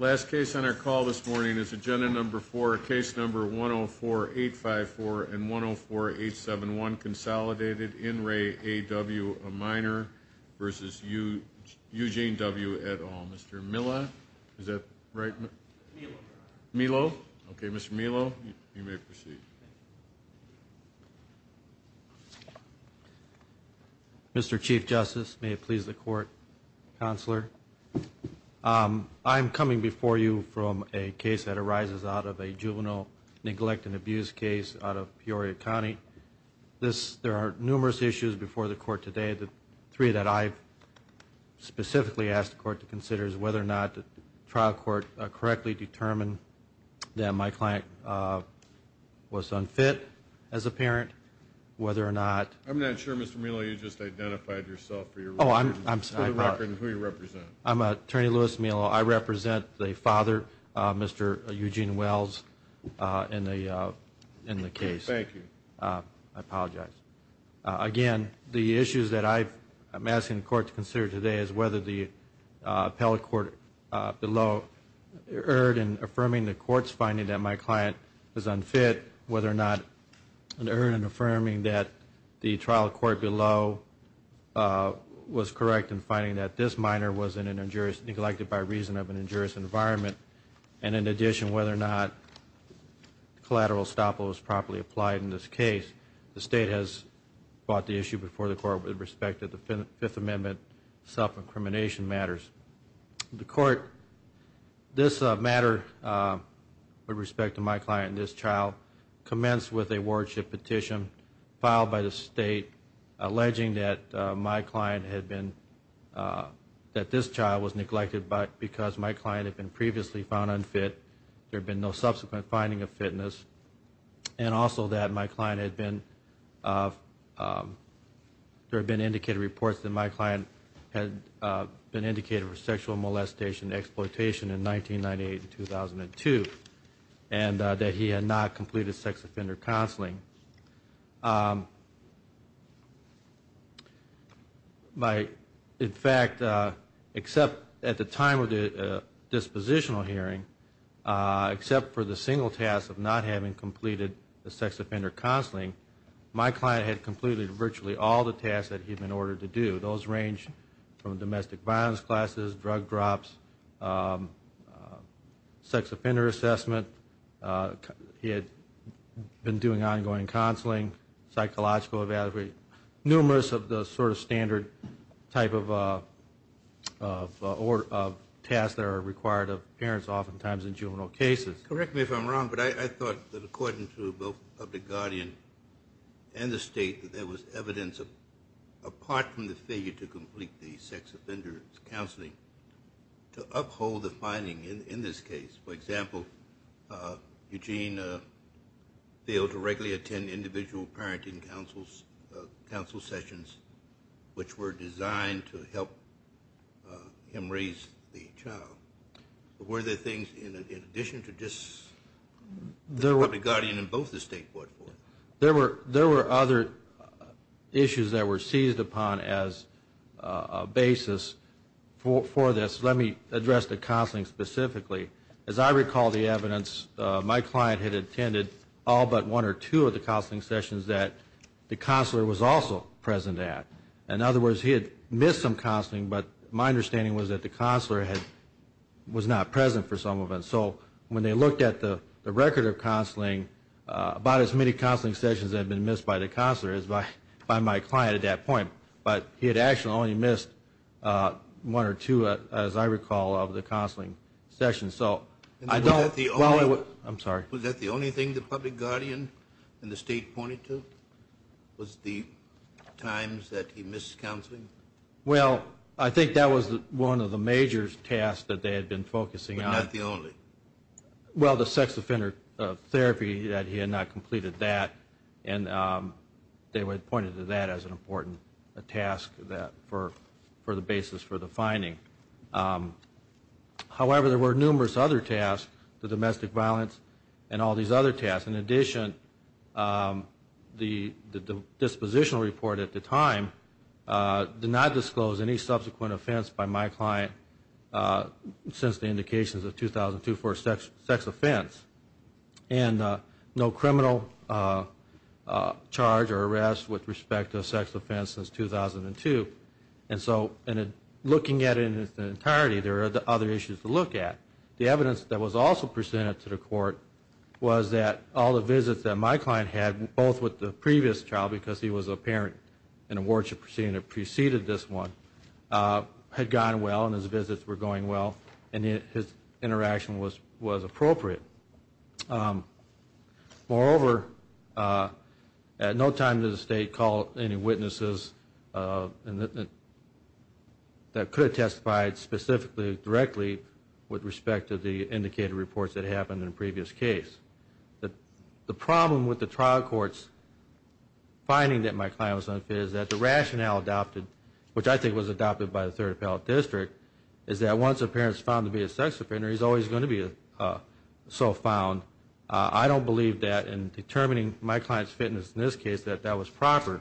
Last case on our call this morning is agenda number four case number one oh four eight five four and one oh four eight seven one consolidated in Ray A.W. a minor versus you Eugene W. A.W. Mr. Mila is that right Milo okay Mr. Milo you may proceed Mr. Chief Justice may it please the court counselor I'm coming before you from a case that arises out of a juvenile neglect and abuse case out of Peoria County. This there are numerous issues before the court today the three that I've specifically asked the court to consider is whether or not the trial court correctly determine that my client was unfit as a parent whether or not I'm not sure Mr. Milo you just identified yourself for your oh I'm I'm sorry. I'm a attorney Louis Milo I represent the father Mr. Eugene Wells in the in the case thank you I apologize again the issues that I've I'm asking the court to consider today is whether the appellate court below. Erred in affirming the court's finding that my client is unfit whether or not an error in affirming that the trial court below was correct in finding that this minor was in an injurious neglected by reason of an injurious environment and in addition whether or not collateral estoppel was properly applied in this case the state has bought the issue before the court with respect to the fifth amendment self-incrimination matters. The court this matter with respect to my client this trial commenced with a wardship petition filed by the state alleging that my client had been that this child was neglected but because my client had been previously found unfit there been no subsequent finding of fitness and also that my client had been. There have been indicated reports that my client had been indicated for sexual molestation and exploitation in 1998 and 2002 and that he had not completed sex offender counseling. In fact, except at the time of the dispositional hearing, except for the single task of not having completed the sex offender counseling, my client had completed virtually all the tasks that he had been ordered to do. Those range from domestic violence classes, drug drops, sex offender assessment, he had been doing ongoing counseling, psychological evaluation, numerous of the sort of standard type of tasks that are required of parents oftentimes in juvenile cases. Correct me if I'm wrong, but I thought that according to both of the guardian and the state that there was evidence apart from the failure to complete the sex offender counseling to uphold the finding in this case. For example, Eugene failed to regularly attend individual parenting counsel sessions which were designed to help him raise the child. Were there things in addition to just the public guardian and both the state brought forth? There were other issues that were seized upon as a basis for this. Let me address the counseling specifically. As I recall the evidence, my client had attended all but one or two of the counseling sessions that the counselor was also present at. In other words, he had missed some counseling, but my understanding was that the counselor was not present for some of them. So when they looked at the record of counseling, about as many counseling sessions had been missed by the counselor as by my client at that point. But he had actually only missed one or two, as I recall, of the counseling sessions. Was that the only thing the public guardian and the state pointed to was the times that he missed counseling? Well, I think that was one of the major tasks that they had been focusing on. Not the only? Well, the sex offender therapy, that he had not completed that. And they had pointed to that as an important task for the basis for the finding. However, there were numerous other tasks, the domestic violence and all these other tasks. In addition, the dispositional report at the time did not disclose any subsequent offense by my client since the indications of 2002 for a sex offense. And no criminal charge or arrest with respect to a sex offense since 2002. And so looking at it in its entirety, there are other issues to look at. The evidence that was also presented to the court was that all the visits that my client had, both with the previous child, because he was a parent in a wardship proceeding that preceded this one, had gone well and his visits were going well. And his interaction was appropriate. Moreover, at no time did the state call any witnesses that could have testified specifically, directly, with respect to the indicated reports that happened in the previous case. The problem with the trial court's finding that my client was unfit is that the rationale adopted, which I think was adopted by the Third Appellate District, is that once a parent is found to be a sex offender, he's always going to be so found. I don't believe that in determining my client's fitness in this case that that was proper.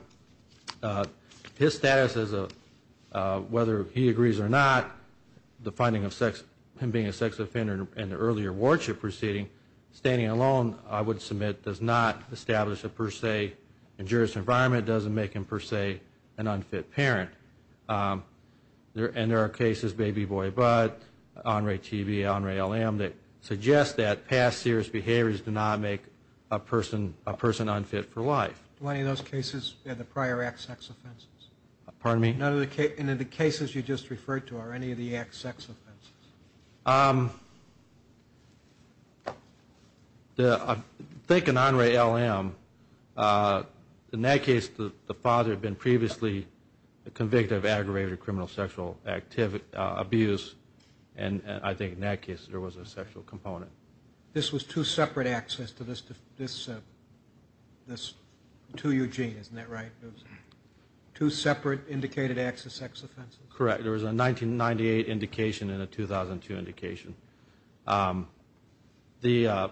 His status, whether he agrees or not, the finding of him being a sex offender in the earlier wardship proceeding, standing alone, I would submit, does not establish a per se injurious environment, doesn't make him per se an unfit parent. And there are cases, baby boy butt, honorary TB, honorary LM, that suggest that past serious behaviors do not make a person unfit for life. Do any of those cases have the prior act sex offenses? Pardon me? None of the cases you just referred to, are any of the acts sex offenses? I think in honorary LM, in that case the father had been previously convicted of aggravated criminal sexual abuse, and I think in that case there was a sexual component. This was two separate acts as to this, two UG, isn't that right? Two separate indicated acts of sex offenses? Correct. There was a 1998 indication and a 2002 indication. The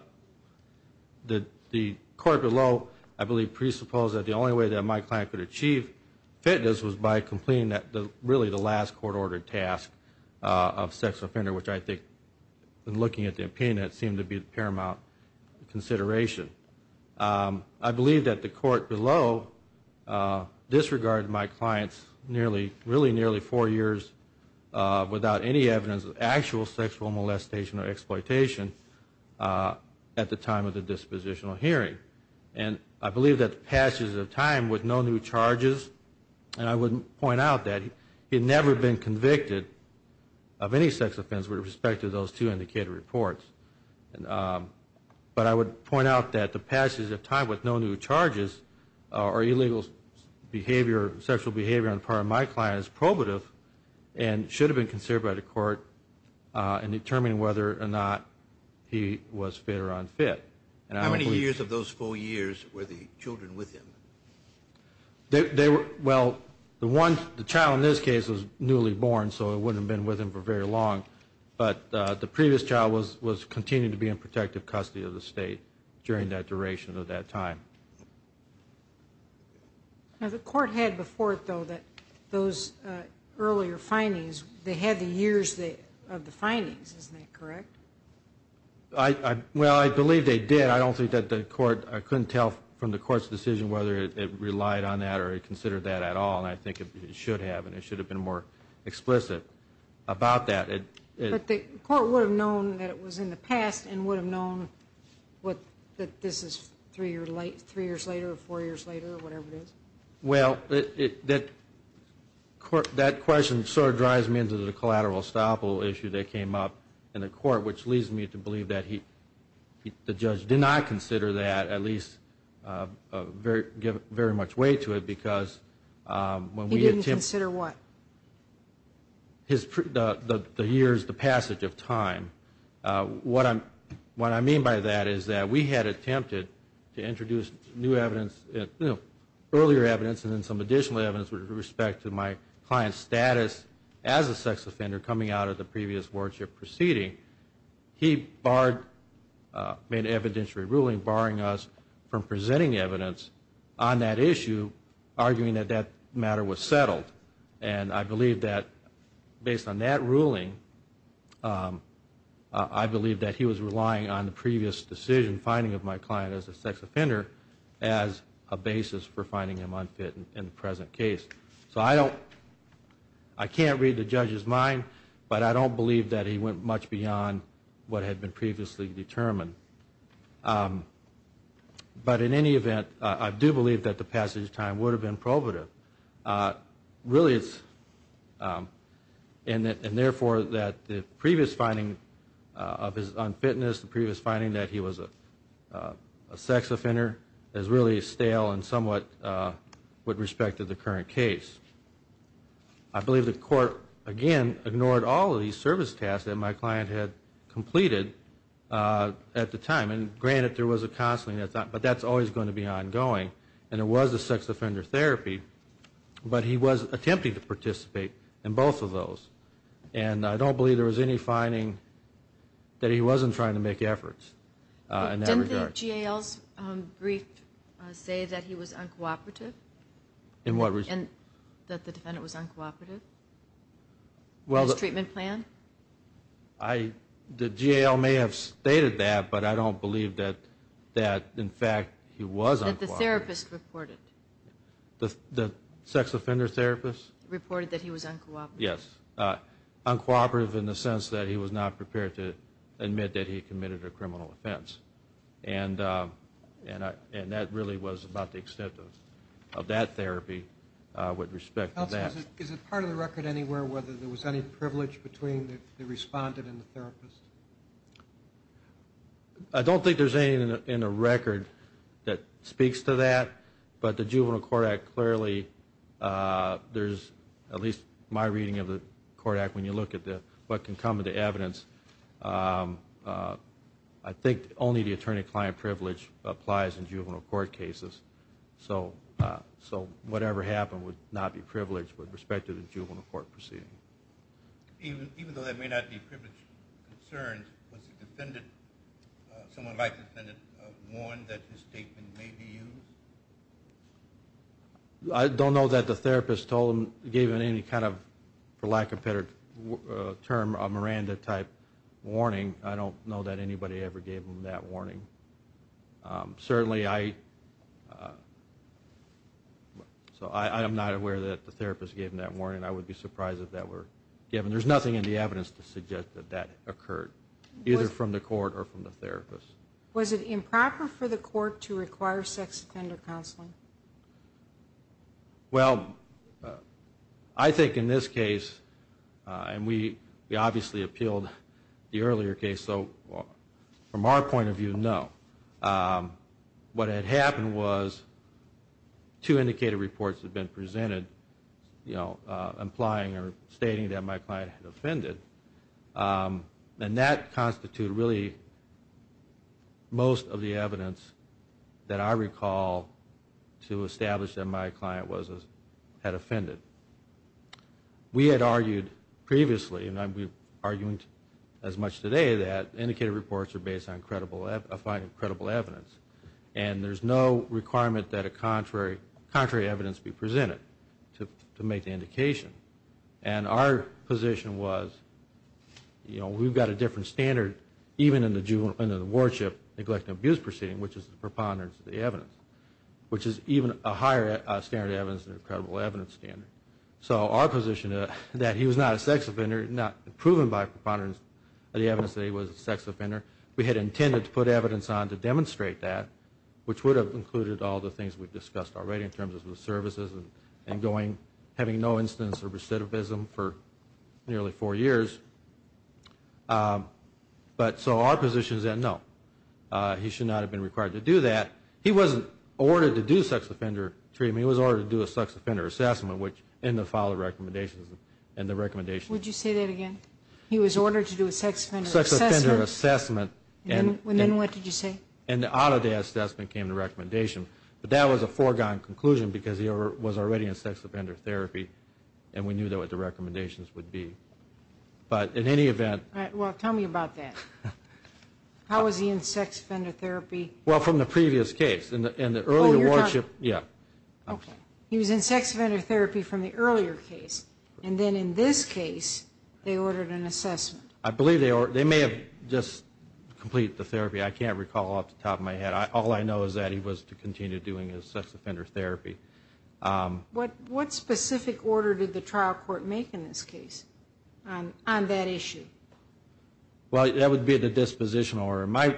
court below, I believe, presupposed that the only way that my client could achieve fitness was by completing really the last court-ordered task of sex offender, which I think in looking at the opinion that seemed to be a paramount consideration. I believe that the court below disregarded my client's really nearly four years without any evidence of actual sexual molestation or exploitation at the time of the dispositional hearing. And I believe that the passage of time with no new charges, and I would point out that he had never been convicted of any sex offense with respect to those two indicated reports. But I would point out that the passage of time with no new charges or illegal sexual behavior on the part of my client is probative and should have been considered by the court in determining whether or not he was fit or unfit. How many years of those four years were the children with him? Well, the child in this case was newly born, so it wouldn't have been with him for very long, but the previous child was continuing to be in protective custody of the state during that duration of that time. Now, the court had before it, though, that those earlier findings, they had the years of the findings, isn't that correct? Well, I believe they did. I don't think that the court, I couldn't tell from the court's decision whether it relied on that or it considered that at all, and I think it should have, and it should have been more explicit about that. But the court would have known that it was in the past and would have known that this is three years later or four years later or whatever it is? Well, that question sort of drives me into the collateral estoppel issue that came up in the court, which leads me to believe that the judge did not consider that, at least give very much weight to it, because when we attempt... He didn't consider what? The years, the passage of time. What I mean by that is that we had attempted to introduce new evidence, earlier evidence and then some additional evidence with respect to my client's status as a sex offender coming out of the previous wardship proceeding. He barred, made an evidentiary ruling barring us from presenting evidence on that issue, arguing that that matter was settled, and I believe that based on that ruling, I believe that he was relying on the previous decision finding of my client as a sex offender as a basis for finding him unfit in the present case. So I don't... I can't read the judge's mind, but I don't believe that he went much beyond what had been previously determined. But in any event, I do believe that the passage of time would have been probative. Really it's... And therefore that the previous finding of his unfitness, the previous finding that he was a sex offender, is really stale and somewhat with respect to the current case. I believe the court, again, ignored all of these service tasks that my client had completed at the time. And granted there was a counseling, but that's always going to be ongoing. And it was a sex offender therapy, but he was attempting to participate in both of those. And I don't believe there was any finding that he wasn't trying to make efforts in that regard. Did the GAO's brief say that he was uncooperative? In what respect? That the defendant was uncooperative in his treatment plan? The GAO may have stated that, but I don't believe that, in fact, he was uncooperative. That the therapist reported? The sex offender therapist? Reported that he was uncooperative. Yes, uncooperative in the sense that he was not prepared to admit that he committed a criminal offense. And that really was about the extent of that therapy with respect to that. Is it part of the record anywhere whether there was any privilege between the respondent and the therapist? I don't think there's anything in the record that speaks to that, but the Juvenile Court Act clearly, there's at least my reading of the court act, when you look at what can come into evidence, I think only the attorney-client privilege applies in juvenile court cases. So whatever happened would not be privileged with respect to the juvenile court proceeding. Even though that may not be privileged concerns, was someone like the defendant warned that his statement may be used? I don't know that the therapist gave him any kind of, for lack of better term, a Miranda-type warning. I don't know that anybody ever gave him that warning. Certainly, I am not aware that the therapist gave him that warning. I would be surprised if that were given. There's nothing in the evidence to suggest that that occurred, either from the court or from the therapist. Was it improper for the court to require sex offender counseling? Well, I think in this case, and we obviously appealed the earlier case, so from our point of view, no. What had happened was two indicated reports had been presented, you know, implying or stating that my client had offended. And that constituted really most of the evidence that I recall to establish that my client had offended. We had argued previously, and we're arguing as much today, that indicated reports are based on finding credible evidence. And there's no requirement that a contrary evidence be presented to make the indication. And our position was, you know, we've got a different standard, even in the warship neglect and abuse proceeding, which is the preponderance of the evidence, which is even a higher standard of evidence than a credible evidence standard. So our position is that he was not a sex offender, not proven by preponderance of the evidence that he was a sex offender. We had intended to put evidence on to demonstrate that, which would have included all the things we've discussed already in terms of the services and having no instance of recidivism for nearly four years. But so our position is that, no, he should not have been required to do that. He wasn't ordered to do sex offender treatment. I mean, he was ordered to do a sex offender assessment, which in the file of recommendations and the recommendations. Would you say that again? He was ordered to do a sex offender assessment. Sex offender assessment. And then what did you say? And out of the assessment came the recommendation. But that was a foregone conclusion because he was already in sex offender therapy, and we knew what the recommendations would be. But in any event. Well, tell me about that. How was he in sex offender therapy? Well, from the previous case. Oh, you're talking. Yeah. Okay. He was in sex offender therapy from the earlier case, and then in this case they ordered an assessment. I believe they may have just completed the therapy. I can't recall off the top of my head. All I know is that he was to continue doing his sex offender therapy. What specific order did the trial court make in this case on that issue? Well, that would be the dispositional order. My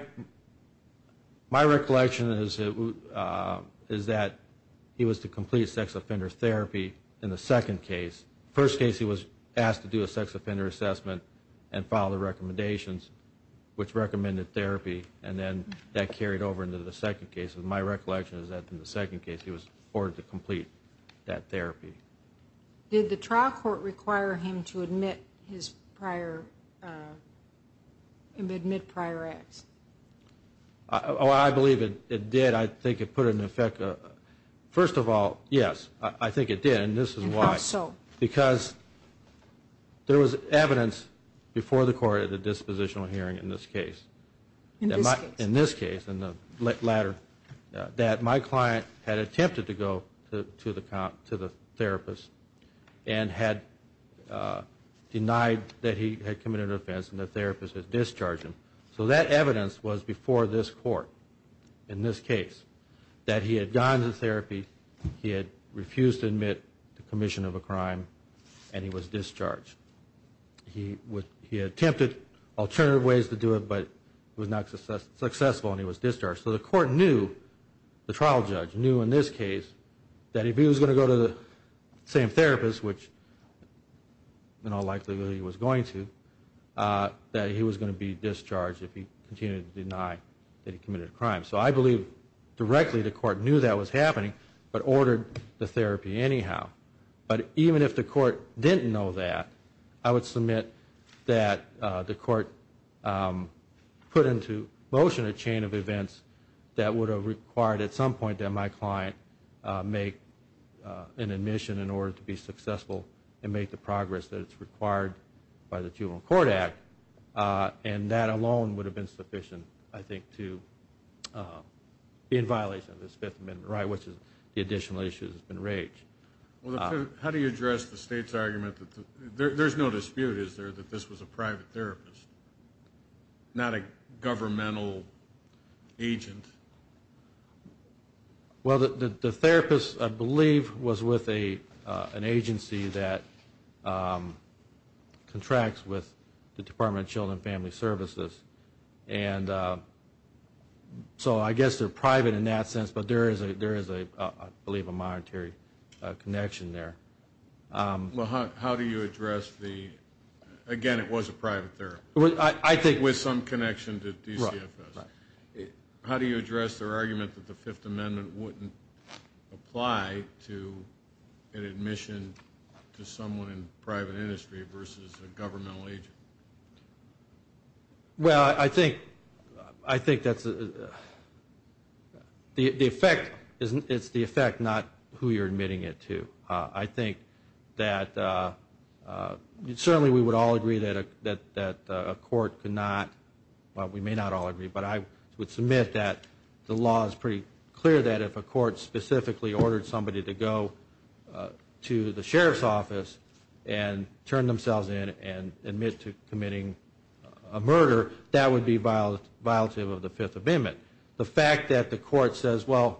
recollection is that he was to complete sex offender therapy in the second case. First case he was asked to do a sex offender assessment and follow the recommendations which recommended therapy, and then that carried over into the second case. My recollection is that in the second case he was ordered to complete that therapy. Did the trial court require him to admit prior acts? Oh, I believe it did. I think it put it in effect. First of all, yes, I think it did, and this is why. Because there was evidence before the court at the dispositional hearing in this case. In this case. In the latter, that my client had attempted to go to the therapist and had denied that he had committed an offense and the therapist had discharged him. So that evidence was before this court in this case, that he had gone to therapy, he had refused to admit to commission of a crime, and he was discharged. He attempted alternative ways to do it, but it was not successful and he was discharged. So the court knew, the trial judge knew in this case, that if he was going to go to the same therapist, which in all likelihood he was going to, that he was going to be discharged if he continued to deny that he committed a crime. So I believe directly the court knew that was happening, but ordered the therapy anyhow. But even if the court didn't know that, I would submit that the court put into motion a chain of events that would have required at some point that my client make an admission in order to be successful and make the progress that is required by the Juvenile Court Act. And that alone would have been sufficient, I think, to be in violation of this Fifth Amendment right, which is the additional issue that has been raised. Well, how do you address the state's argument that there's no dispute, is there, that this was a private therapist, not a governmental agent? Well, the therapist, I believe, was with an agency that contracts with the Department of Children and Family Services. And so I guess they're private in that sense, but there is, I believe, a monetary connection there. Well, how do you address the, again, it was a private therapist. I think. With some connection to DCFS. Right, right. How do you address their argument that the Fifth Amendment wouldn't apply to an admission to someone in private industry versus a governmental agent? Well, I think it's the effect, not who you're admitting it to. I think that certainly we would all agree that a court could not, well, we may not all agree, but I would submit that the law is pretty clear that if a court specifically ordered somebody to go to the sheriff's office and turn themselves in and admit to committing a murder, that would be violative of the Fifth Amendment. The fact that the court says, well,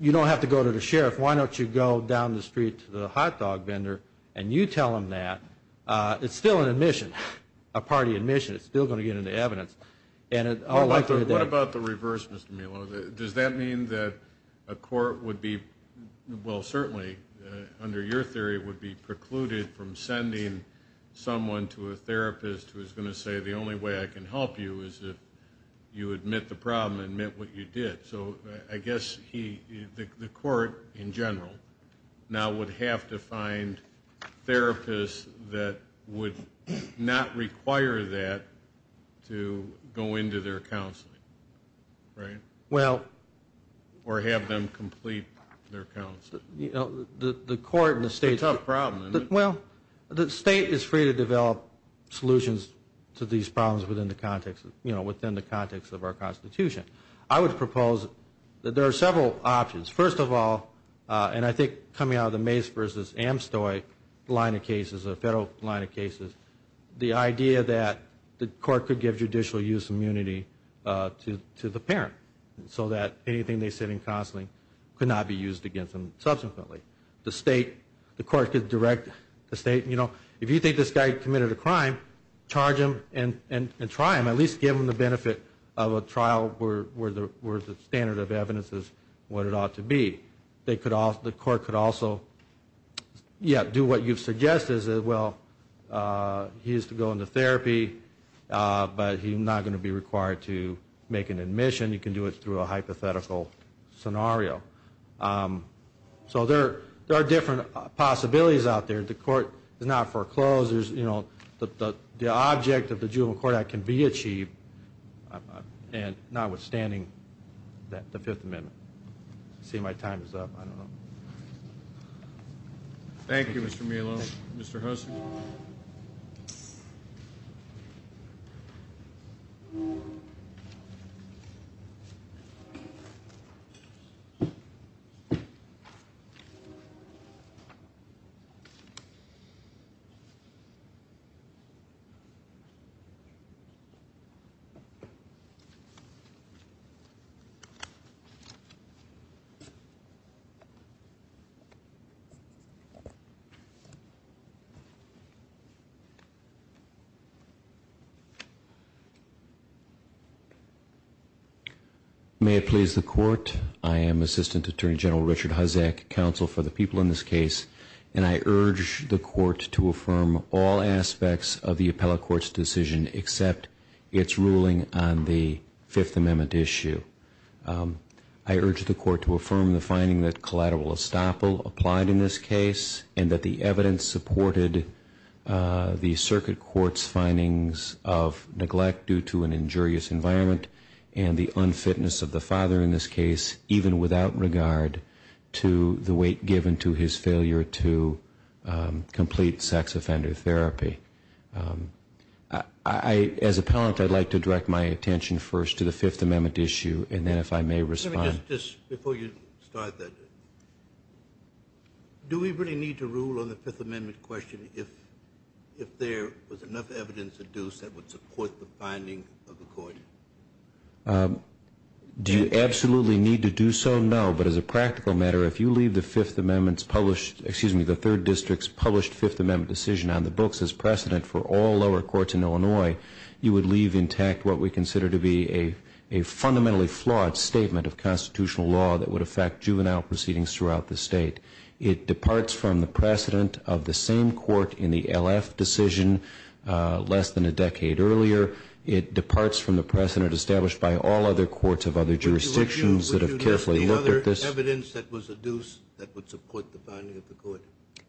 you don't have to go to the sheriff, why don't you go down the street to the hot dog vendor and you tell them that, it's still an admission, a party admission. It's still going to get into evidence. What about the reverse, Mr. Melo? Does that mean that a court would be, well, certainly, under your theory, would be precluded from sending someone to a therapist who is going to say, the only way I can help you is if you admit the problem, admit what you did. So I guess the court in general now would have to find therapists that would not require that to go into their counseling. Right. Well. Or have them complete their counseling. You know, the court and the state. It's a tough problem, isn't it? Well, the state is free to develop solutions to these problems within the context, you know, within the context of our Constitution. I would propose that there are several options. First of all, and I think coming out of the Mace v. Amstoy line of cases, a federal line of cases, the idea that the court could give judicial use immunity to the parent so that anything they said in counseling could not be used against them subsequently. The state, the court could direct the state, you know, if you think this guy committed a crime, charge him and try him. At least give him the benefit of a trial where the standard of evidence is what it ought to be. The court could also, yeah, do what you've suggested. Well, he's to go into therapy, but he's not going to be required to make an admission. You can do it through a hypothetical scenario. So there are different possibilities out there. The court does not foreclose. You know, the object of the Juvenile Court Act can be achieved, notwithstanding the Fifth Amendment. See, my time is up. I don't know. Thank you, Mr. Melo. Mr. Hosen. May it please the Court. I am Assistant Attorney General Richard Hosek, counsel for the people in this case, and I urge the Court to affirm all aspects of the appellate court's decision except its ruling on the Fifth Amendment issue. I urge the Court to affirm the finding that collateral estoppel applied in this case and that the evidence supported the circuit court's findings of neglect due to an injurious environment and the unfitness of the father in this case, even without regard to the weight given to his failure to complete sex offender therapy. As appellant, I'd like to direct my attention first to the Fifth Amendment issue, and then if I may respond. Just before you start that, do we really need to rule on the Fifth Amendment question if there was enough evidence to do so that would support the finding of the court? Do you absolutely need to do so? No. But as a practical matter, if you leave the Fifth Amendment's published, excuse me, the Third District's published Fifth Amendment decision on the books as precedent for all lower courts in Illinois, you would leave intact what we consider to be a fundamentally flawed statement of constitutional law that would affect juvenile proceedings throughout the state. It departs from the precedent of the same court in the LF decision less than a decade earlier. It departs from the precedent established by all other courts of other jurisdictions that have carefully looked at this. Would you list the other evidence that was adduced that would support the finding of the court?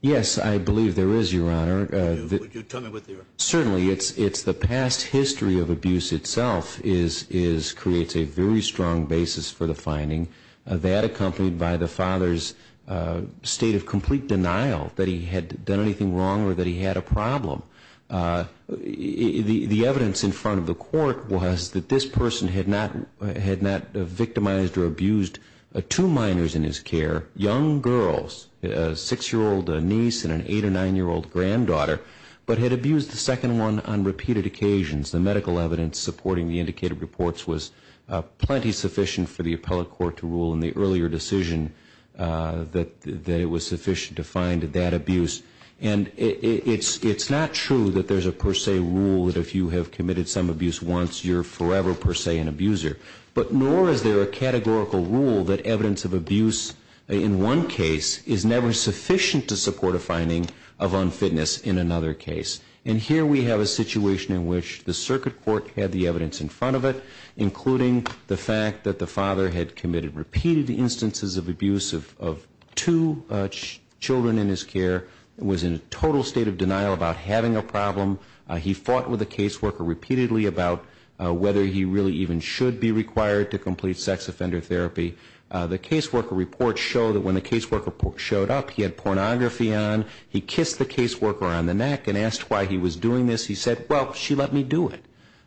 Yes, I believe there is, Your Honor. Would you tell me what they are? Certainly. It's the past history of abuse itself creates a very strong basis for the finding. That accompanied by the father's state of complete denial that he had done anything wrong or that he had a problem. The evidence in front of the court was that this person had not victimized or abused two minors in his care, young girls, a six-year-old niece and an eight- or nine-year-old granddaughter, but had abused the second one on repeated occasions. The medical evidence supporting the indicated reports was plenty sufficient for the appellate court to rule in the earlier decision that it was sufficient to find that abuse. And it's not true that there's a per se rule that if you have committed some abuse once, you're forever per se an abuser. But nor is there a categorical rule that evidence of abuse in one case is never sufficient to support a finding of unfitness in another case. And here we have a situation in which the circuit court had the evidence in front of it, including the fact that the father had committed repeated instances of abuse of two children in his care, was in a total state of denial about having a problem. He fought with a caseworker repeatedly about whether he really even should be required to complete sex offender therapy. The caseworker reports show that when the caseworker showed up, he had pornography on. He kissed the caseworker on the neck and asked why he was doing this. He said, well, she let me do it.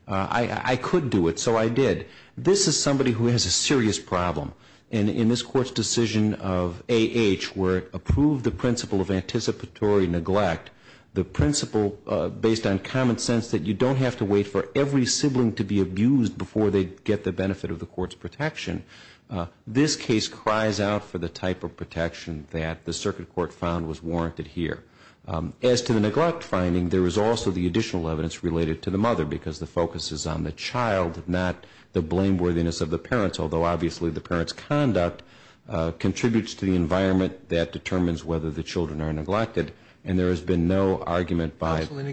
I could do it, so I did. This is somebody who has a serious problem. And in this court's decision of A.H. where it approved the principle of anticipatory neglect, the principle based on common sense that you don't have to wait for every sibling to be abused before they get the benefit of the court's protection, this case cries out for the type of protection that the circuit court found was warranted here. As to the neglect finding, there is also the additional evidence related to the mother, because the focus is on the child, not the blameworthiness of the parents, although obviously the parent's conduct contributes to the environment that determines whether the children are neglected. And there has been no argument by the court.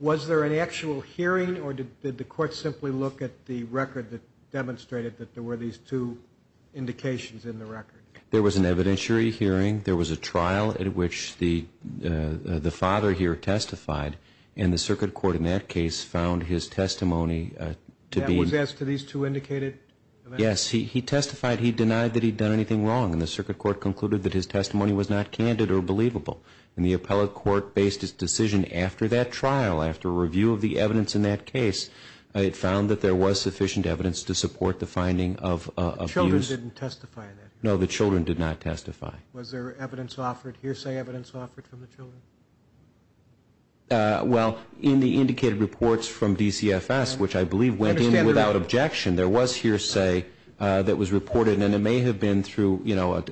Was there an actual hearing, or did the court simply look at the record that demonstrated that there were these two indications in the record? There was an evidentiary hearing. There was a trial at which the father here testified, and the circuit court in that case found his testimony to be... That was as to these two indicated? Yes. He testified he denied that he'd done anything wrong, and the circuit court concluded that his testimony was not candid or believable. And the appellate court based its decision after that trial, after review of the evidence in that case. It found that there was sufficient evidence to support the finding of abuse. The children didn't testify in that hearing? No, the children did not testify. Was there evidence offered, hearsay evidence offered from the children? Well, in the indicated reports from DCFS, which I believe went in without objection, there was hearsay that was reported, and it may have been through, you know,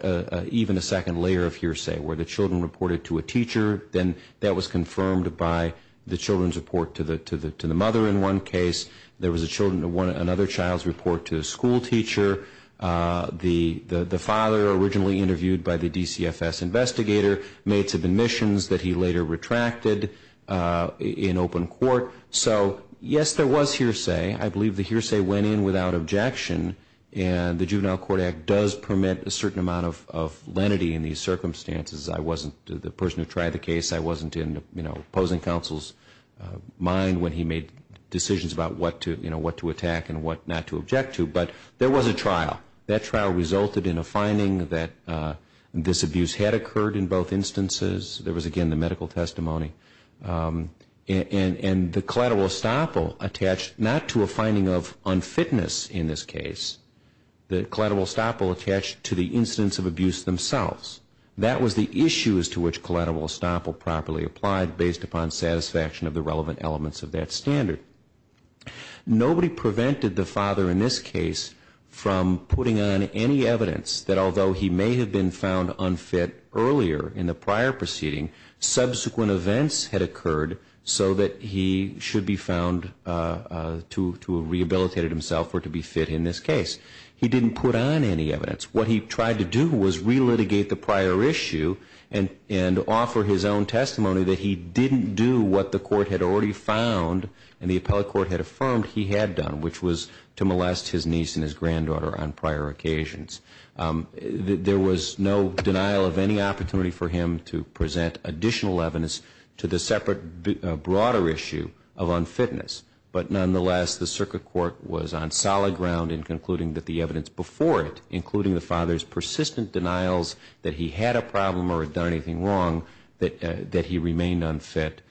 even a second layer of hearsay, where the children reported to a teacher. Then that was confirmed by the children's report to the mother in one case. There was another child's report to a school teacher. The father, originally interviewed by the DCFS investigator, made some admissions that he later retracted in open court. So, yes, there was hearsay. I believe the hearsay went in without objection, and the Juvenile Court Act does permit a certain amount of lenity in these circumstances. I wasn't the person who tried the case. I wasn't in, you know, opposing counsel's mind when he made decisions about what to attack and what not to object to. But there was a trial. That trial resulted in a finding that this abuse had occurred in both instances. There was, again, the medical testimony. And the collateral estoppel attached not to a finding of unfitness in this case. The collateral estoppel attached to the incidents of abuse themselves. That was the issue as to which collateral estoppel properly applied, based upon satisfaction of the relevant elements of that standard. Nobody prevented the father in this case from putting on any evidence that, although he may have been found unfit earlier in the prior proceeding, subsequent events had occurred so that he should be found to have rehabilitated himself or to be fit in this case. He didn't put on any evidence. What he tried to do was relitigate the prior issue and offer his own testimony that he didn't do what the court had already found and the appellate court had affirmed he had done, which was to molest his niece and his granddaughter on prior occasions. There was no denial of any opportunity for him to present additional evidence to the separate, broader issue of unfitness. But nonetheless, the circuit court was on solid ground in concluding that the evidence before it, including the father's persistent denials that he had a problem or had done anything wrong, that he remained unfit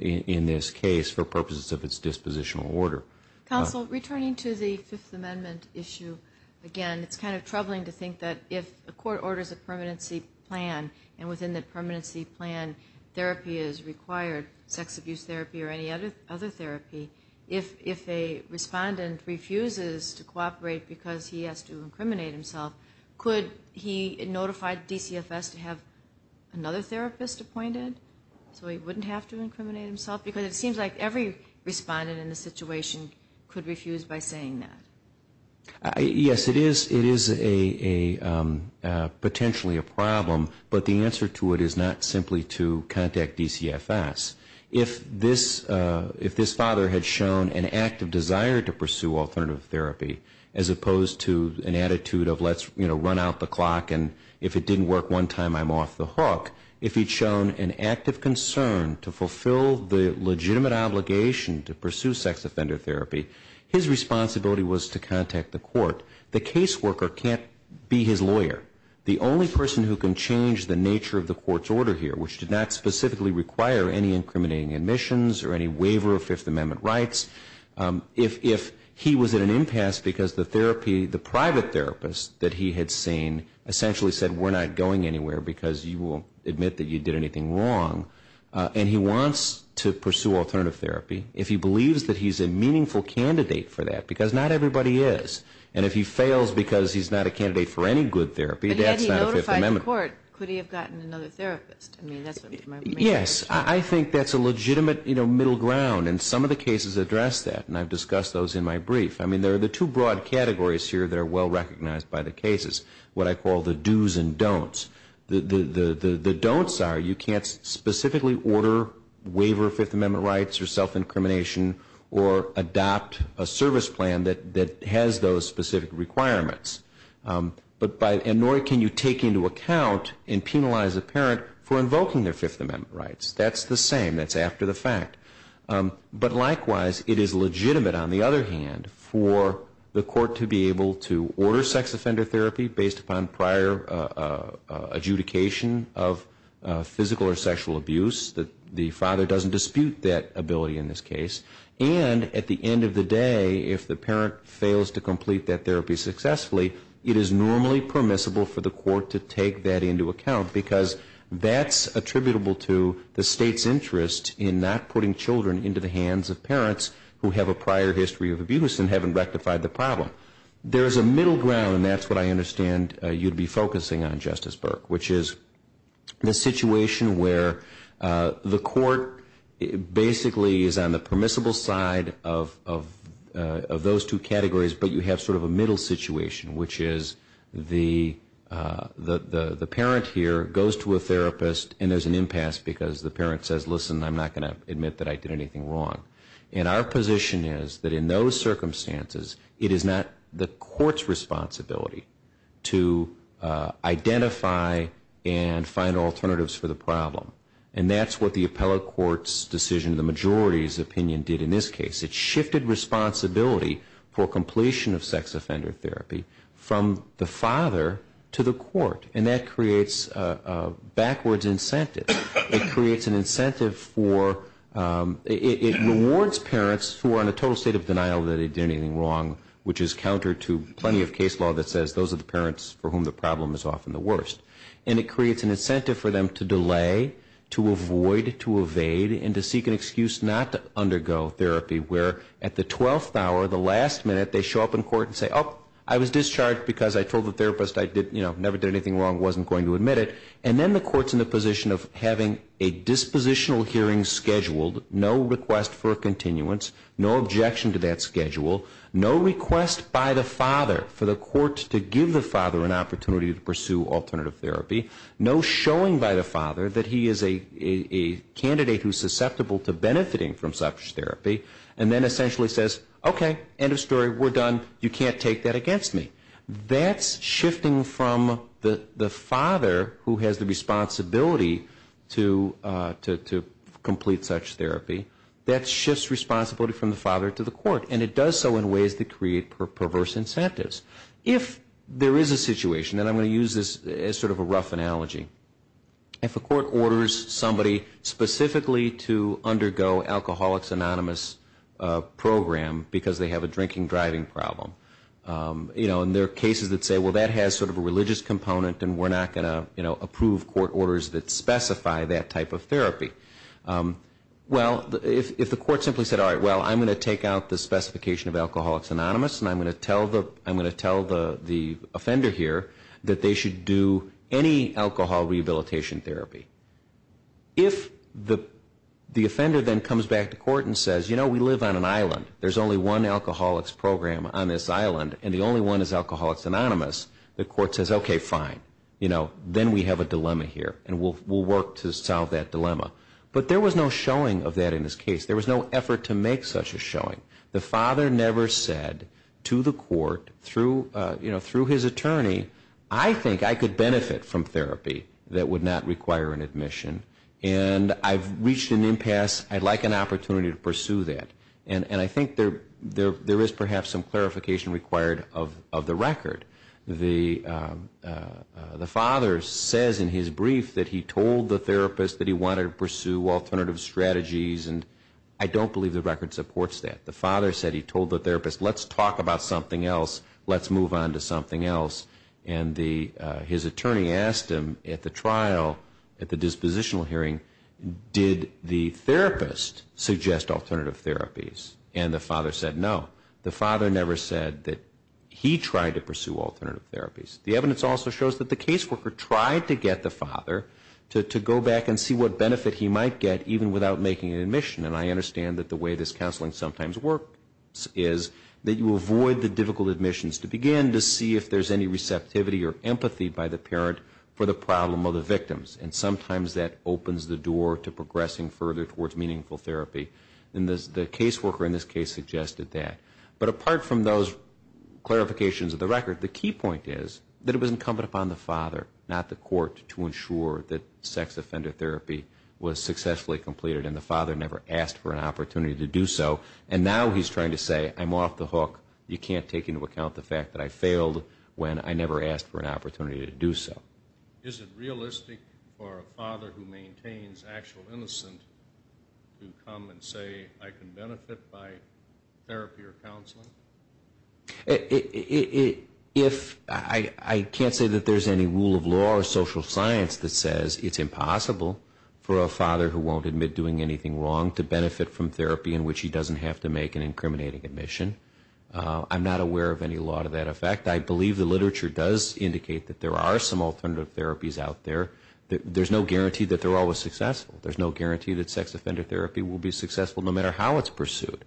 in this case for purposes of its dispositional order. Counsel, returning to the Fifth Amendment issue, again, it's kind of troubling to think that if a court orders a permanency plan and within that permanency plan therapy is required, sex abuse therapy or any other therapy, if a respondent refuses to cooperate because he has to incriminate himself, could he notify DCFS to have another therapist appointed so he wouldn't have to incriminate himself? Because it seems like every respondent in this situation could refuse by saying that. Yes, it is potentially a problem, but the answer to it is not simply to contact DCFS. If this father had shown an active desire to pursue alternative therapy, as opposed to an attitude of let's run out the clock and if it didn't work one time, I'm off the hook, if he'd shown an active concern to fulfill the legitimate obligation to pursue sex offender therapy, his responsibility was to contact the court. The caseworker can't be his lawyer. The only person who can change the nature of the court's order here, which did not specifically require any incriminating admissions or any waiver of Fifth Amendment rights, if he was at an impasse because the private therapist that he had seen essentially said, we're not going anywhere because you won't admit that you did anything wrong, and he wants to pursue alternative therapy, if he believes that he's a meaningful candidate for that, because not everybody is, and if he fails because he's not a candidate for any good therapy, that's not a Fifth Amendment. But had he notified the court, could he have gotten another therapist? Yes, I think that's a legitimate middle ground, and some of the cases address that, and I've discussed those in my brief. I mean, there are the two broad categories here that are well recognized by the cases, what I call the do's and don'ts. The don'ts are you can't specifically order, waiver Fifth Amendment rights or self-incrimination or adopt a service plan that has those specific requirements, and nor can you take into account and penalize a parent for invoking their Fifth Amendment rights. That's the same. That's after the fact. But likewise, it is legitimate on the other hand for the court to be able to order sex offender therapy based upon prior adjudication of physical or sexual abuse. The father doesn't dispute that ability in this case. And at the end of the day, if the parent fails to complete that therapy successfully, it is normally permissible for the court to take that into account because that's attributable to the state's interest in not putting children into the hands of parents who have a prior history of abuse and haven't rectified the problem. There is a middle ground, and that's what I understand you'd be focusing on, Justice Burke, which is the situation where the court basically is on the permissible side of those two categories, but you have sort of a middle situation, which is the parent here goes to a therapist, and there's an impasse because the parent says, listen, I'm not going to admit that I did anything wrong. And our position is that in those circumstances, it is not the court's responsibility to identify and find alternatives for the problem. And that's what the appellate court's decision, the majority's opinion, did in this case. It shifted responsibility for completion of sex offender therapy from the father to the court, and that creates a backwards incentive. It creates an incentive for ñ it rewards parents who are in a total state of denial that they did anything wrong, which is counter to plenty of case law that says those are the parents for whom the problem is often the worst. And it creates an incentive for them to delay, to avoid, to evade, and to seek an excuse not to undergo therapy, where at the 12th hour, the last minute, they show up in court and say, oh, I was discharged because I told the therapist I never did anything wrong, wasn't going to admit it. And then the court's in the position of having a dispositional hearing scheduled, no request for a continuance, no objection to that schedule, no request by the father for the court to give the father an opportunity to pursue alternative therapy, no showing by the father that he is a candidate who's susceptible to benefiting from such therapy, and then essentially says, okay, end of story, we're done, you can't take that against me. That's shifting from the father who has the responsibility to complete such therapy. That shifts responsibility from the father to the court, and it does so in ways that create perverse incentives. If there is a situation, and I'm going to use this as sort of a rough analogy, if a court orders somebody specifically to undergo Alcoholics Anonymous program because they have a drinking-driving problem, and there are cases that say, well, that has sort of a religious component, and we're not going to approve court orders that specify that type of therapy. Well, if the court simply said, all right, well, I'm going to take out the specification of Alcoholics Anonymous, and I'm going to tell the offender here that they should do any alcohol rehabilitation therapy. If the offender then comes back to court and says, you know, we live on an island, there's only one Alcoholics program on this island, and the only one is Alcoholics Anonymous, the court says, okay, fine, you know, then we have a dilemma here, and we'll work to solve that dilemma. But there was no showing of that in this case. There was no effort to make such a showing. The father never said to the court, you know, through his attorney, I think I could benefit from therapy that would not require an admission, and I've reached an impasse. I'd like an opportunity to pursue that. And I think there is perhaps some clarification required of the record. The father says in his brief that he told the therapist that he wanted to pursue alternative strategies, and I don't believe the record supports that. The father said he told the therapist, let's talk about something else. Let's move on to something else. And his attorney asked him at the trial, at the dispositional hearing, did the therapist suggest alternative therapies? And the father said no. The father never said that he tried to pursue alternative therapies. The evidence also shows that the caseworker tried to get the father to go back and see what benefit he might get even without making an admission. And I understand that the way this counseling sometimes works is that you avoid the difficult admissions to begin to see if there's any receptivity or empathy by the parent for the problem of the victims. And sometimes that opens the door to progressing further towards meaningful therapy. And the caseworker in this case suggested that. But apart from those clarifications of the record, the key point is that it was incumbent upon the father, not the court, to ensure that sex offender therapy was successfully completed. And the father never asked for an opportunity to do so. And now he's trying to say, I'm off the hook. You can't take into account the fact that I failed when I never asked for an opportunity to do so. Is it realistic for a father who maintains actual innocence to come and say, I can benefit by therapy or counseling? I can't say that there's any rule of law or social science that says it's impossible for a father who won't admit doing anything wrong to benefit from therapy in which he doesn't have to make an incriminating admission. I'm not aware of any law to that effect. I believe the literature does indicate that there are some alternative therapies out there. There's no guarantee that they're always successful. There's no guarantee that sex offender therapy will be successful no matter how it's pursued.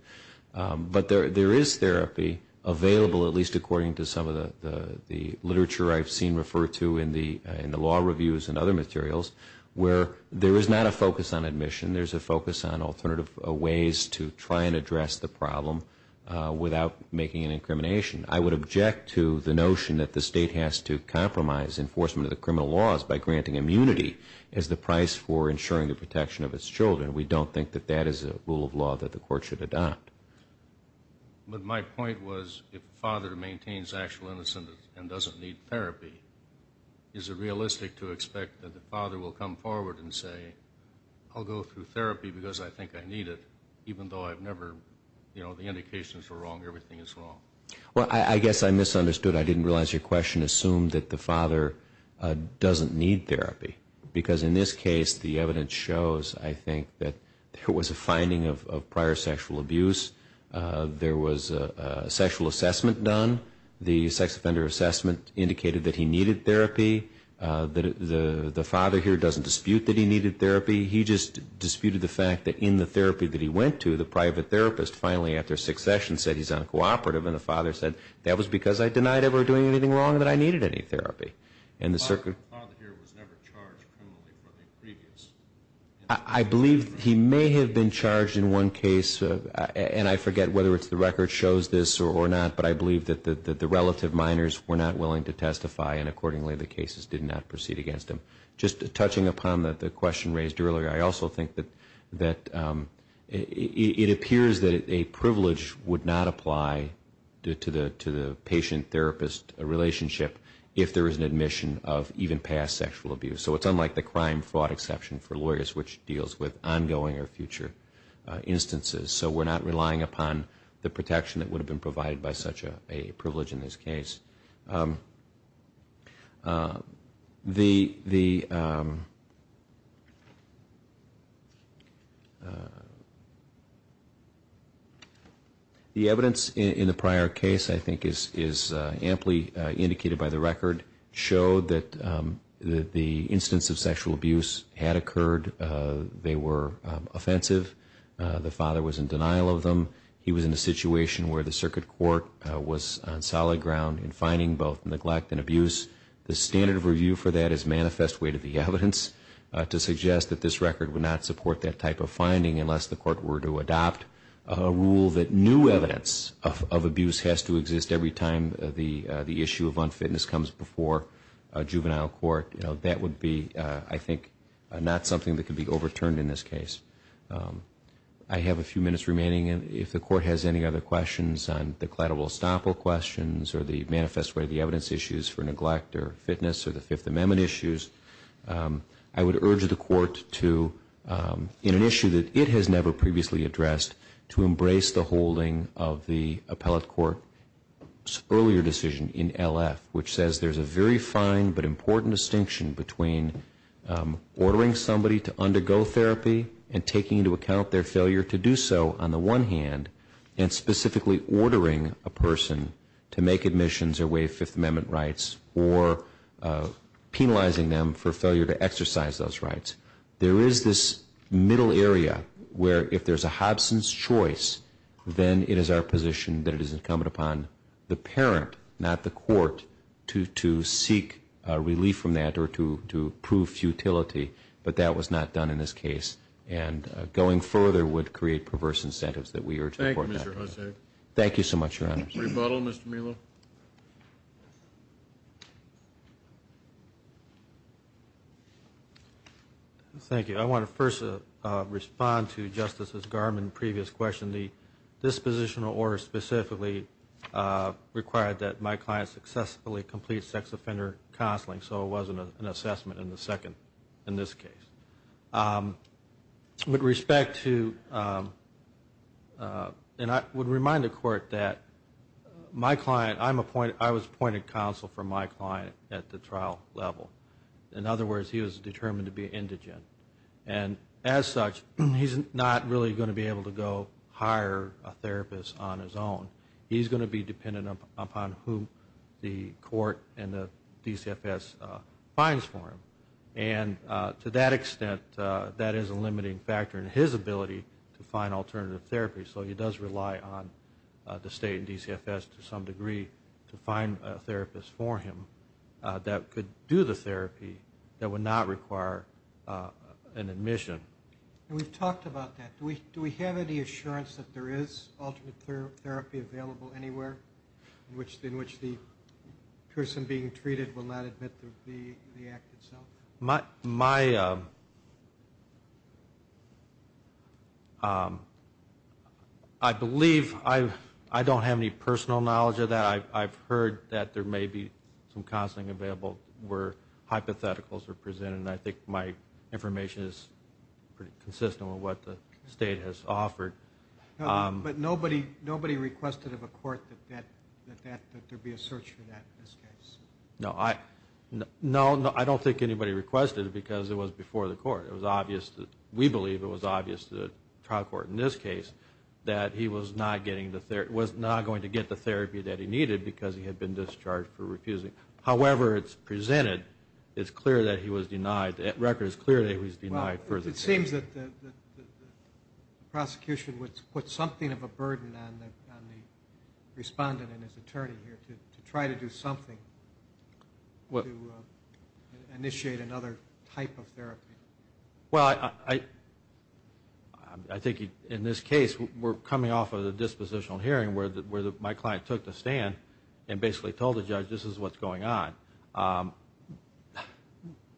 But there is therapy available, at least according to some of the literature I've seen referred to in the law reviews and other materials, where there is not a focus on admission. There's a focus on alternative ways to try and address the problem without making an incrimination. I would object to the notion that the state has to compromise enforcement of the criminal laws by granting immunity as the price for ensuring the protection of its children. We don't think that that is a rule of law that the court should adopt. But my point was, if a father maintains actual innocence and doesn't need therapy, is it realistic to expect that the father will come forward and say, I'll go through therapy because I think I need it, even though I've never, you know, the indications are wrong, everything is wrong? Well, I guess I misunderstood. I didn't realize your question assumed that the father doesn't need therapy. Because in this case, the evidence shows, I think, that there was a finding of prior sexual abuse. There was a sexual assessment done. The sex offender assessment indicated that he needed therapy. The father here doesn't dispute that he needed therapy. He just disputed the fact that in the therapy that he went to, the private therapist finally, after six sessions, said he's on cooperative. And the father said, that was because I denied ever doing anything wrong and that I needed any therapy. The father here was never charged criminally for anything previous. I believe he may have been charged in one case, and I forget whether it's the record shows this or not, but I believe that the relative minors were not willing to testify, and accordingly the cases did not proceed against him. Just touching upon the question raised earlier, I also think that it appears that a privilege would not apply to the patient-therapist relationship if there is an admission of even past sexual abuse. So it's unlike the crime-fraud exception for lawyers, which deals with ongoing or future instances. So we're not relying upon the protection that would have been provided by such a privilege in this case. The evidence in the prior case, I think, is amply indicated by the record, showed that the instance of sexual abuse had occurred. They were offensive. The father was in denial of them. He was in a situation where the circuit court was on solid ground in finding both neglect and abuse. The standard of review for that is manifest weight of the evidence to suggest that this record would not support that type of finding unless the court were to adopt a rule that new evidence of abuse has to exist every time the issue of unfitness comes before a juvenile court. That would be, I think, not something that could be overturned in this case. I have a few minutes remaining. If the court has any other questions on the cladible estoppel questions or the manifest weight of the evidence issues for neglect or fitness or the Fifth Amendment issues, I would urge the court to, in an issue that it has never previously addressed, to embrace the holding of the appellate court's earlier decision in LF, which says there's a very fine but important distinction between ordering somebody to undergo therapy and taking into account their failure to do so on the one hand and specifically ordering a person to make admissions or waive Fifth Amendment rights or penalizing them for failure to exercise those rights. There is this middle area where if there's a Hobson's choice, then it is our position that it is incumbent upon the parent, not the court, to seek relief from that or to prove futility. But that was not done in this case. And going further would create perverse incentives that we urge the court not to do. Thank you, Mr. Hosea. Thank you so much, Your Honors. Rebuttal, Mr. Melo. Thank you. I want to first respond to Justices Garmon's previous question. The dispositional order specifically required that my client successfully complete sex offender counseling. So it wasn't an assessment in the second, in this case. With respect to, and I would remind the court that my client, I was appointed counsel for my client at the trial level. In other words, he was determined to be indigent. He's not going to hire a therapist on his own. He's going to be dependent upon who the court and the DCFS finds for him. And to that extent, that is a limiting factor in his ability to find alternative therapy. So he does rely on the state and DCFS to some degree to find a therapist for him that could do the therapy that would not require an admission. And we've talked about that. Do we have any assurance that there is alternate therapy available anywhere in which the person being treated will not admit to the act itself? I believe, I don't have any personal knowledge of that. But I've heard that there may be some counseling available where hypotheticals are presented. And I think my information is pretty consistent with what the state has offered. But nobody requested of a court that there be a search for that in this case? No, I don't think anybody requested it because it was before the court. It was obvious, we believe it was obvious to the trial court in this case, that he was not going to get the therapy that he needed because he had been discharged for refusing. However, it's presented, it's clear that he was denied, the record is clear that he was denied further therapy. It seems that the prosecution would put something of a burden on the respondent and his attorney here to try to do something to initiate another type of therapy. Well, I think in this case, we're coming off of the dispositional hearing where my client took the stand and basically told the judge, this is what's going on.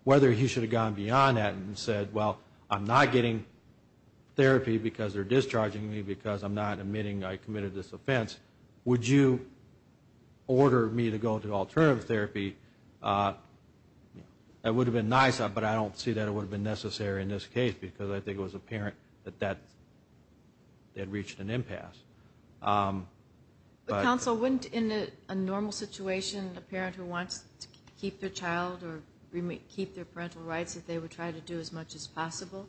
Whether he should have gone beyond that and said, well, I'm not getting therapy because they're discharging me, because I'm not admitting I committed this offense, would you order me to go to alternative therapy? That would have been nice, but I don't see that it would have been necessary in this case, because I think it was apparent that that had reached an impasse. But counsel, wouldn't in a normal situation, a parent who wants to keep their child or keep their parental rights, that they would try to do as much as possible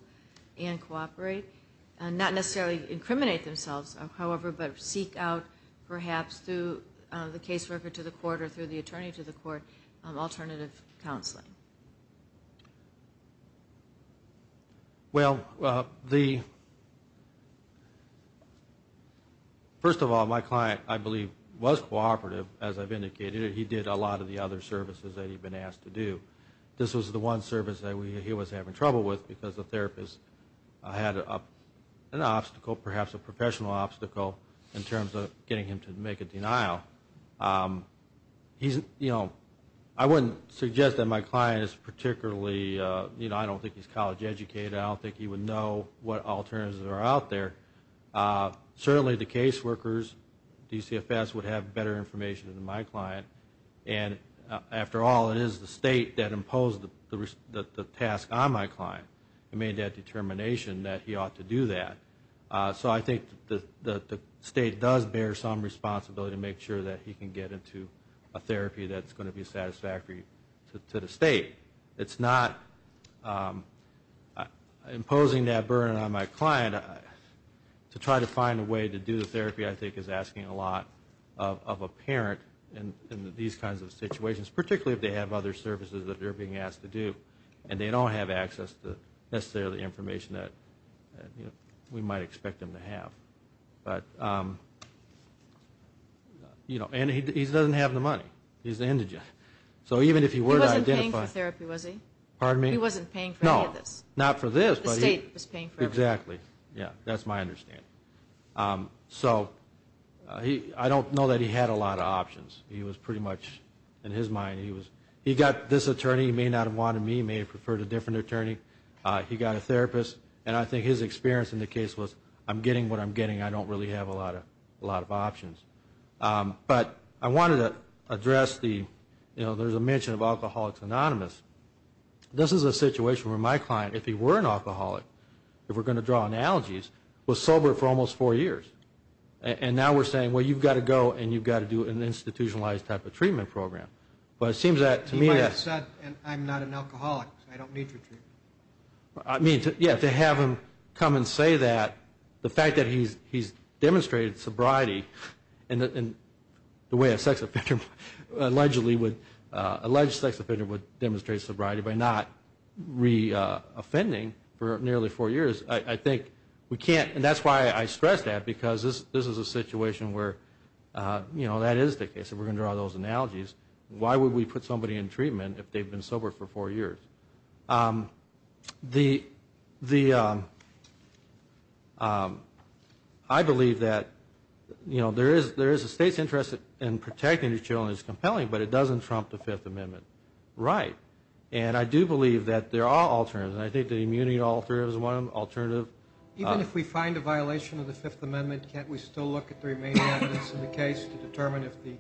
and cooperate? Not necessarily incriminate themselves, however, but seek out, perhaps through the caseworker to the court or through the attorney to the court, alternative counseling. Well, first of all, my client, I believe, was cooperative, as I've indicated. He did a lot of the other services that he'd been asked to do. This was the one service that he was having trouble with because the therapist had an obstacle, perhaps a professional obstacle, in terms of getting him to make a denial. I wouldn't suggest that my client is particularly, you know, I don't think he's college educated. I don't think he would know what alternatives are out there. Certainly the caseworkers, DCFS, would have better information than my client. And after all, it is the state that imposed the task on my client. It made that determination that he ought to do that. So I think the state does bear some responsibility to make sure that he can get into a therapy that's going to be satisfactory to the state. It's not imposing that burden on my client. To try to find a way to do the therapy, I think, is asking a lot of a parent in these kinds of situations, particularly if they have other services that they're being asked to do and they don't have access to necessarily the information that we might expect them to have. But, you know, and he doesn't have the money. He's an indigent. He wasn't paying for therapy, was he? Pardon me? He wasn't paying for any of this. No, not for this. The state was paying for everything. Exactly. Yeah, that's my understanding. So I don't know that he had a lot of options. He was pretty much, in his mind, he got this attorney. He may not have wanted me. He may have preferred a different attorney. He got a therapist. And I think his experience in the case was, I'm getting what I'm getting. I don't really have a lot of options. But I wanted to address the, you know, there's a mention of Alcoholics Anonymous. This is a situation where my client, if he were an alcoholic, if we're going to draw analogies, was sober for almost four years. And now we're saying, well, you've got to go and you've got to do an institutionalized type of treatment program. But it seems to me that... He might have said, I'm not an alcoholic, I don't need your treatment. I mean, yeah, to have him come and say that, the fact that he's demonstrated sobriety in the way a sex offender allegedly would, alleged sex offender would demonstrate sobriety by not re-offending for nearly four years. I think we can't, and that's why I stress that, because this is a situation where, you know, that is the case. If we're going to draw those analogies, why would we put somebody in treatment if they've been sober for four years? The... I believe that, you know, there is a state's interest in protecting these children. It's compelling, but it doesn't trump the Fifth Amendment. Right. And I do believe that there are alternatives, and I think the immunity alter is one alternative. Even if we find a violation of the Fifth Amendment, can't we still look at the remaining evidence in the case to determine if the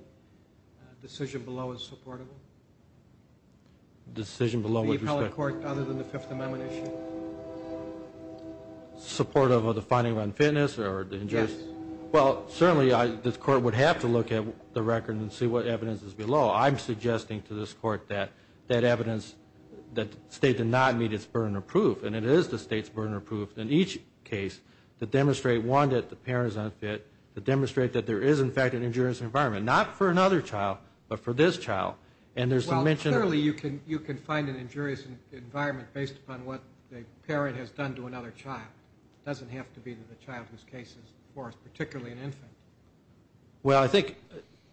decision below is supportable? Decision below with respect to... Any appellate court other than the Fifth Amendment issue? Support of the finding of unfitness or the injurious... Yes. Well, certainly, this court would have to look at the record and see what evidence is below. I'm suggesting to this court that that evidence, that state did not meet its burden of proof, and it is the state's burden of proof in each case to demonstrate, one, that the parent is unfit, to demonstrate that there is, in fact, an injurious environment, not for another child, but for this child. And there's a mention... Well, clearly, you can find an injurious environment based upon what the parent has done to another child. It doesn't have to be the child whose case is forced, particularly an infant. Well, I think...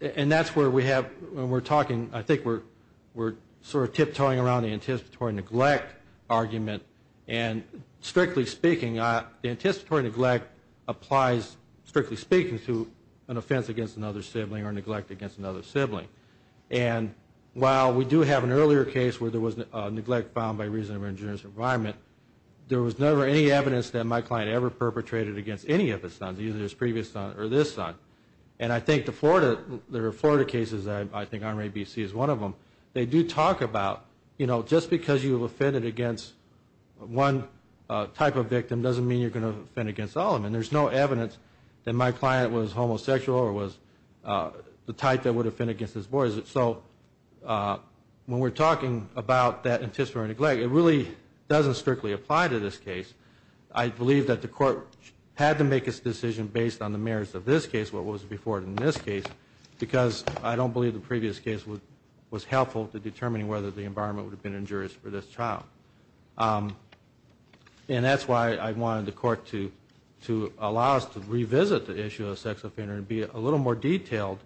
And that's where we have... When we're talking, I think we're sort of tiptoeing around the anticipatory neglect argument, and strictly speaking, the anticipatory neglect applies, strictly speaking, to an offense against another sibling or neglect against another sibling. And while we do have an earlier case where there was neglect found by reason of an injurious environment, there was never any evidence that my client ever perpetrated against any of his sons, either his previous son or this son. And I think the Florida... There are Florida cases that I think R.A.B.C. is one of them. They do talk about, you know, just because you've offended against one type of victim doesn't mean you're going to offend against all of them. And there's no evidence that my client was homosexual or was the type that would offend against his boys. So when we're talking about that anticipatory neglect, it really doesn't strictly apply to this case. I believe that the court had to make its decision based on the merits of this case, what was before it in this case, because I don't believe the previous case was helpful to determining whether the environment would have been injurious for this child. And that's why I wanted the court to allow us to revisit the issue of the sex offender and be a little more detailed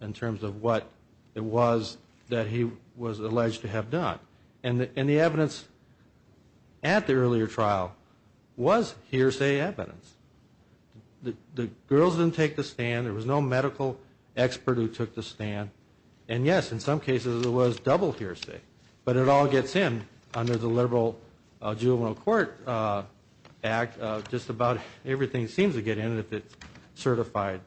in terms of what it was that he was alleged to have done. And the evidence at the earlier trial was hearsay evidence. The girls didn't take the stand. There was no medical expert who took the stand. And yes, in some cases it was double hearsay, but it all gets in under the liberal juvenile court act. Just about everything seems to get in if it's certified.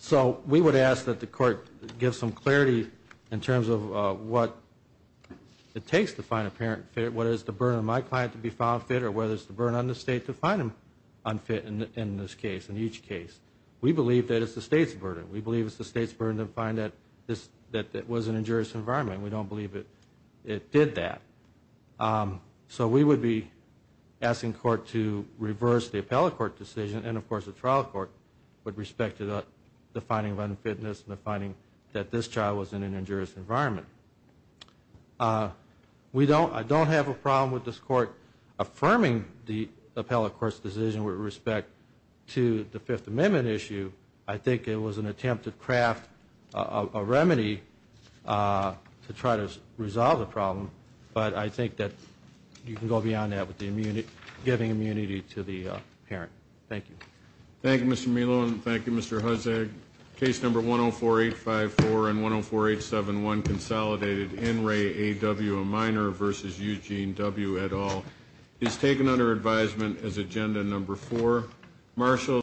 So we would ask that the court give some clarity in terms of what it takes to find a parent fit, what is the burden on my client to be found fit or whether it's the burden on the state to find him unfit in this case, in each case. We believe that it's the state's burden. We believe it's the state's burden to find that it was an injurious environment. We don't believe it did that. So we would be asking court to reverse the appellate court decision and, of course, the trial court with respect to the finding of unfitness and the finding that this child was in an injurious environment. I don't have a problem with this court affirming the appellate court's decision with respect to the Fifth Amendment issue. I think it was an attempt to craft a remedy to try to resolve the problem, but I think that you can go beyond that with giving immunity to the parent. Thank you. Thank you, Mr. Melo, and thank you, Mr. Hussag. Case number 104854 and 104871, Consolidated In Re A W, a minor, versus Eugene W. et al., is taken under advisement as agenda number four.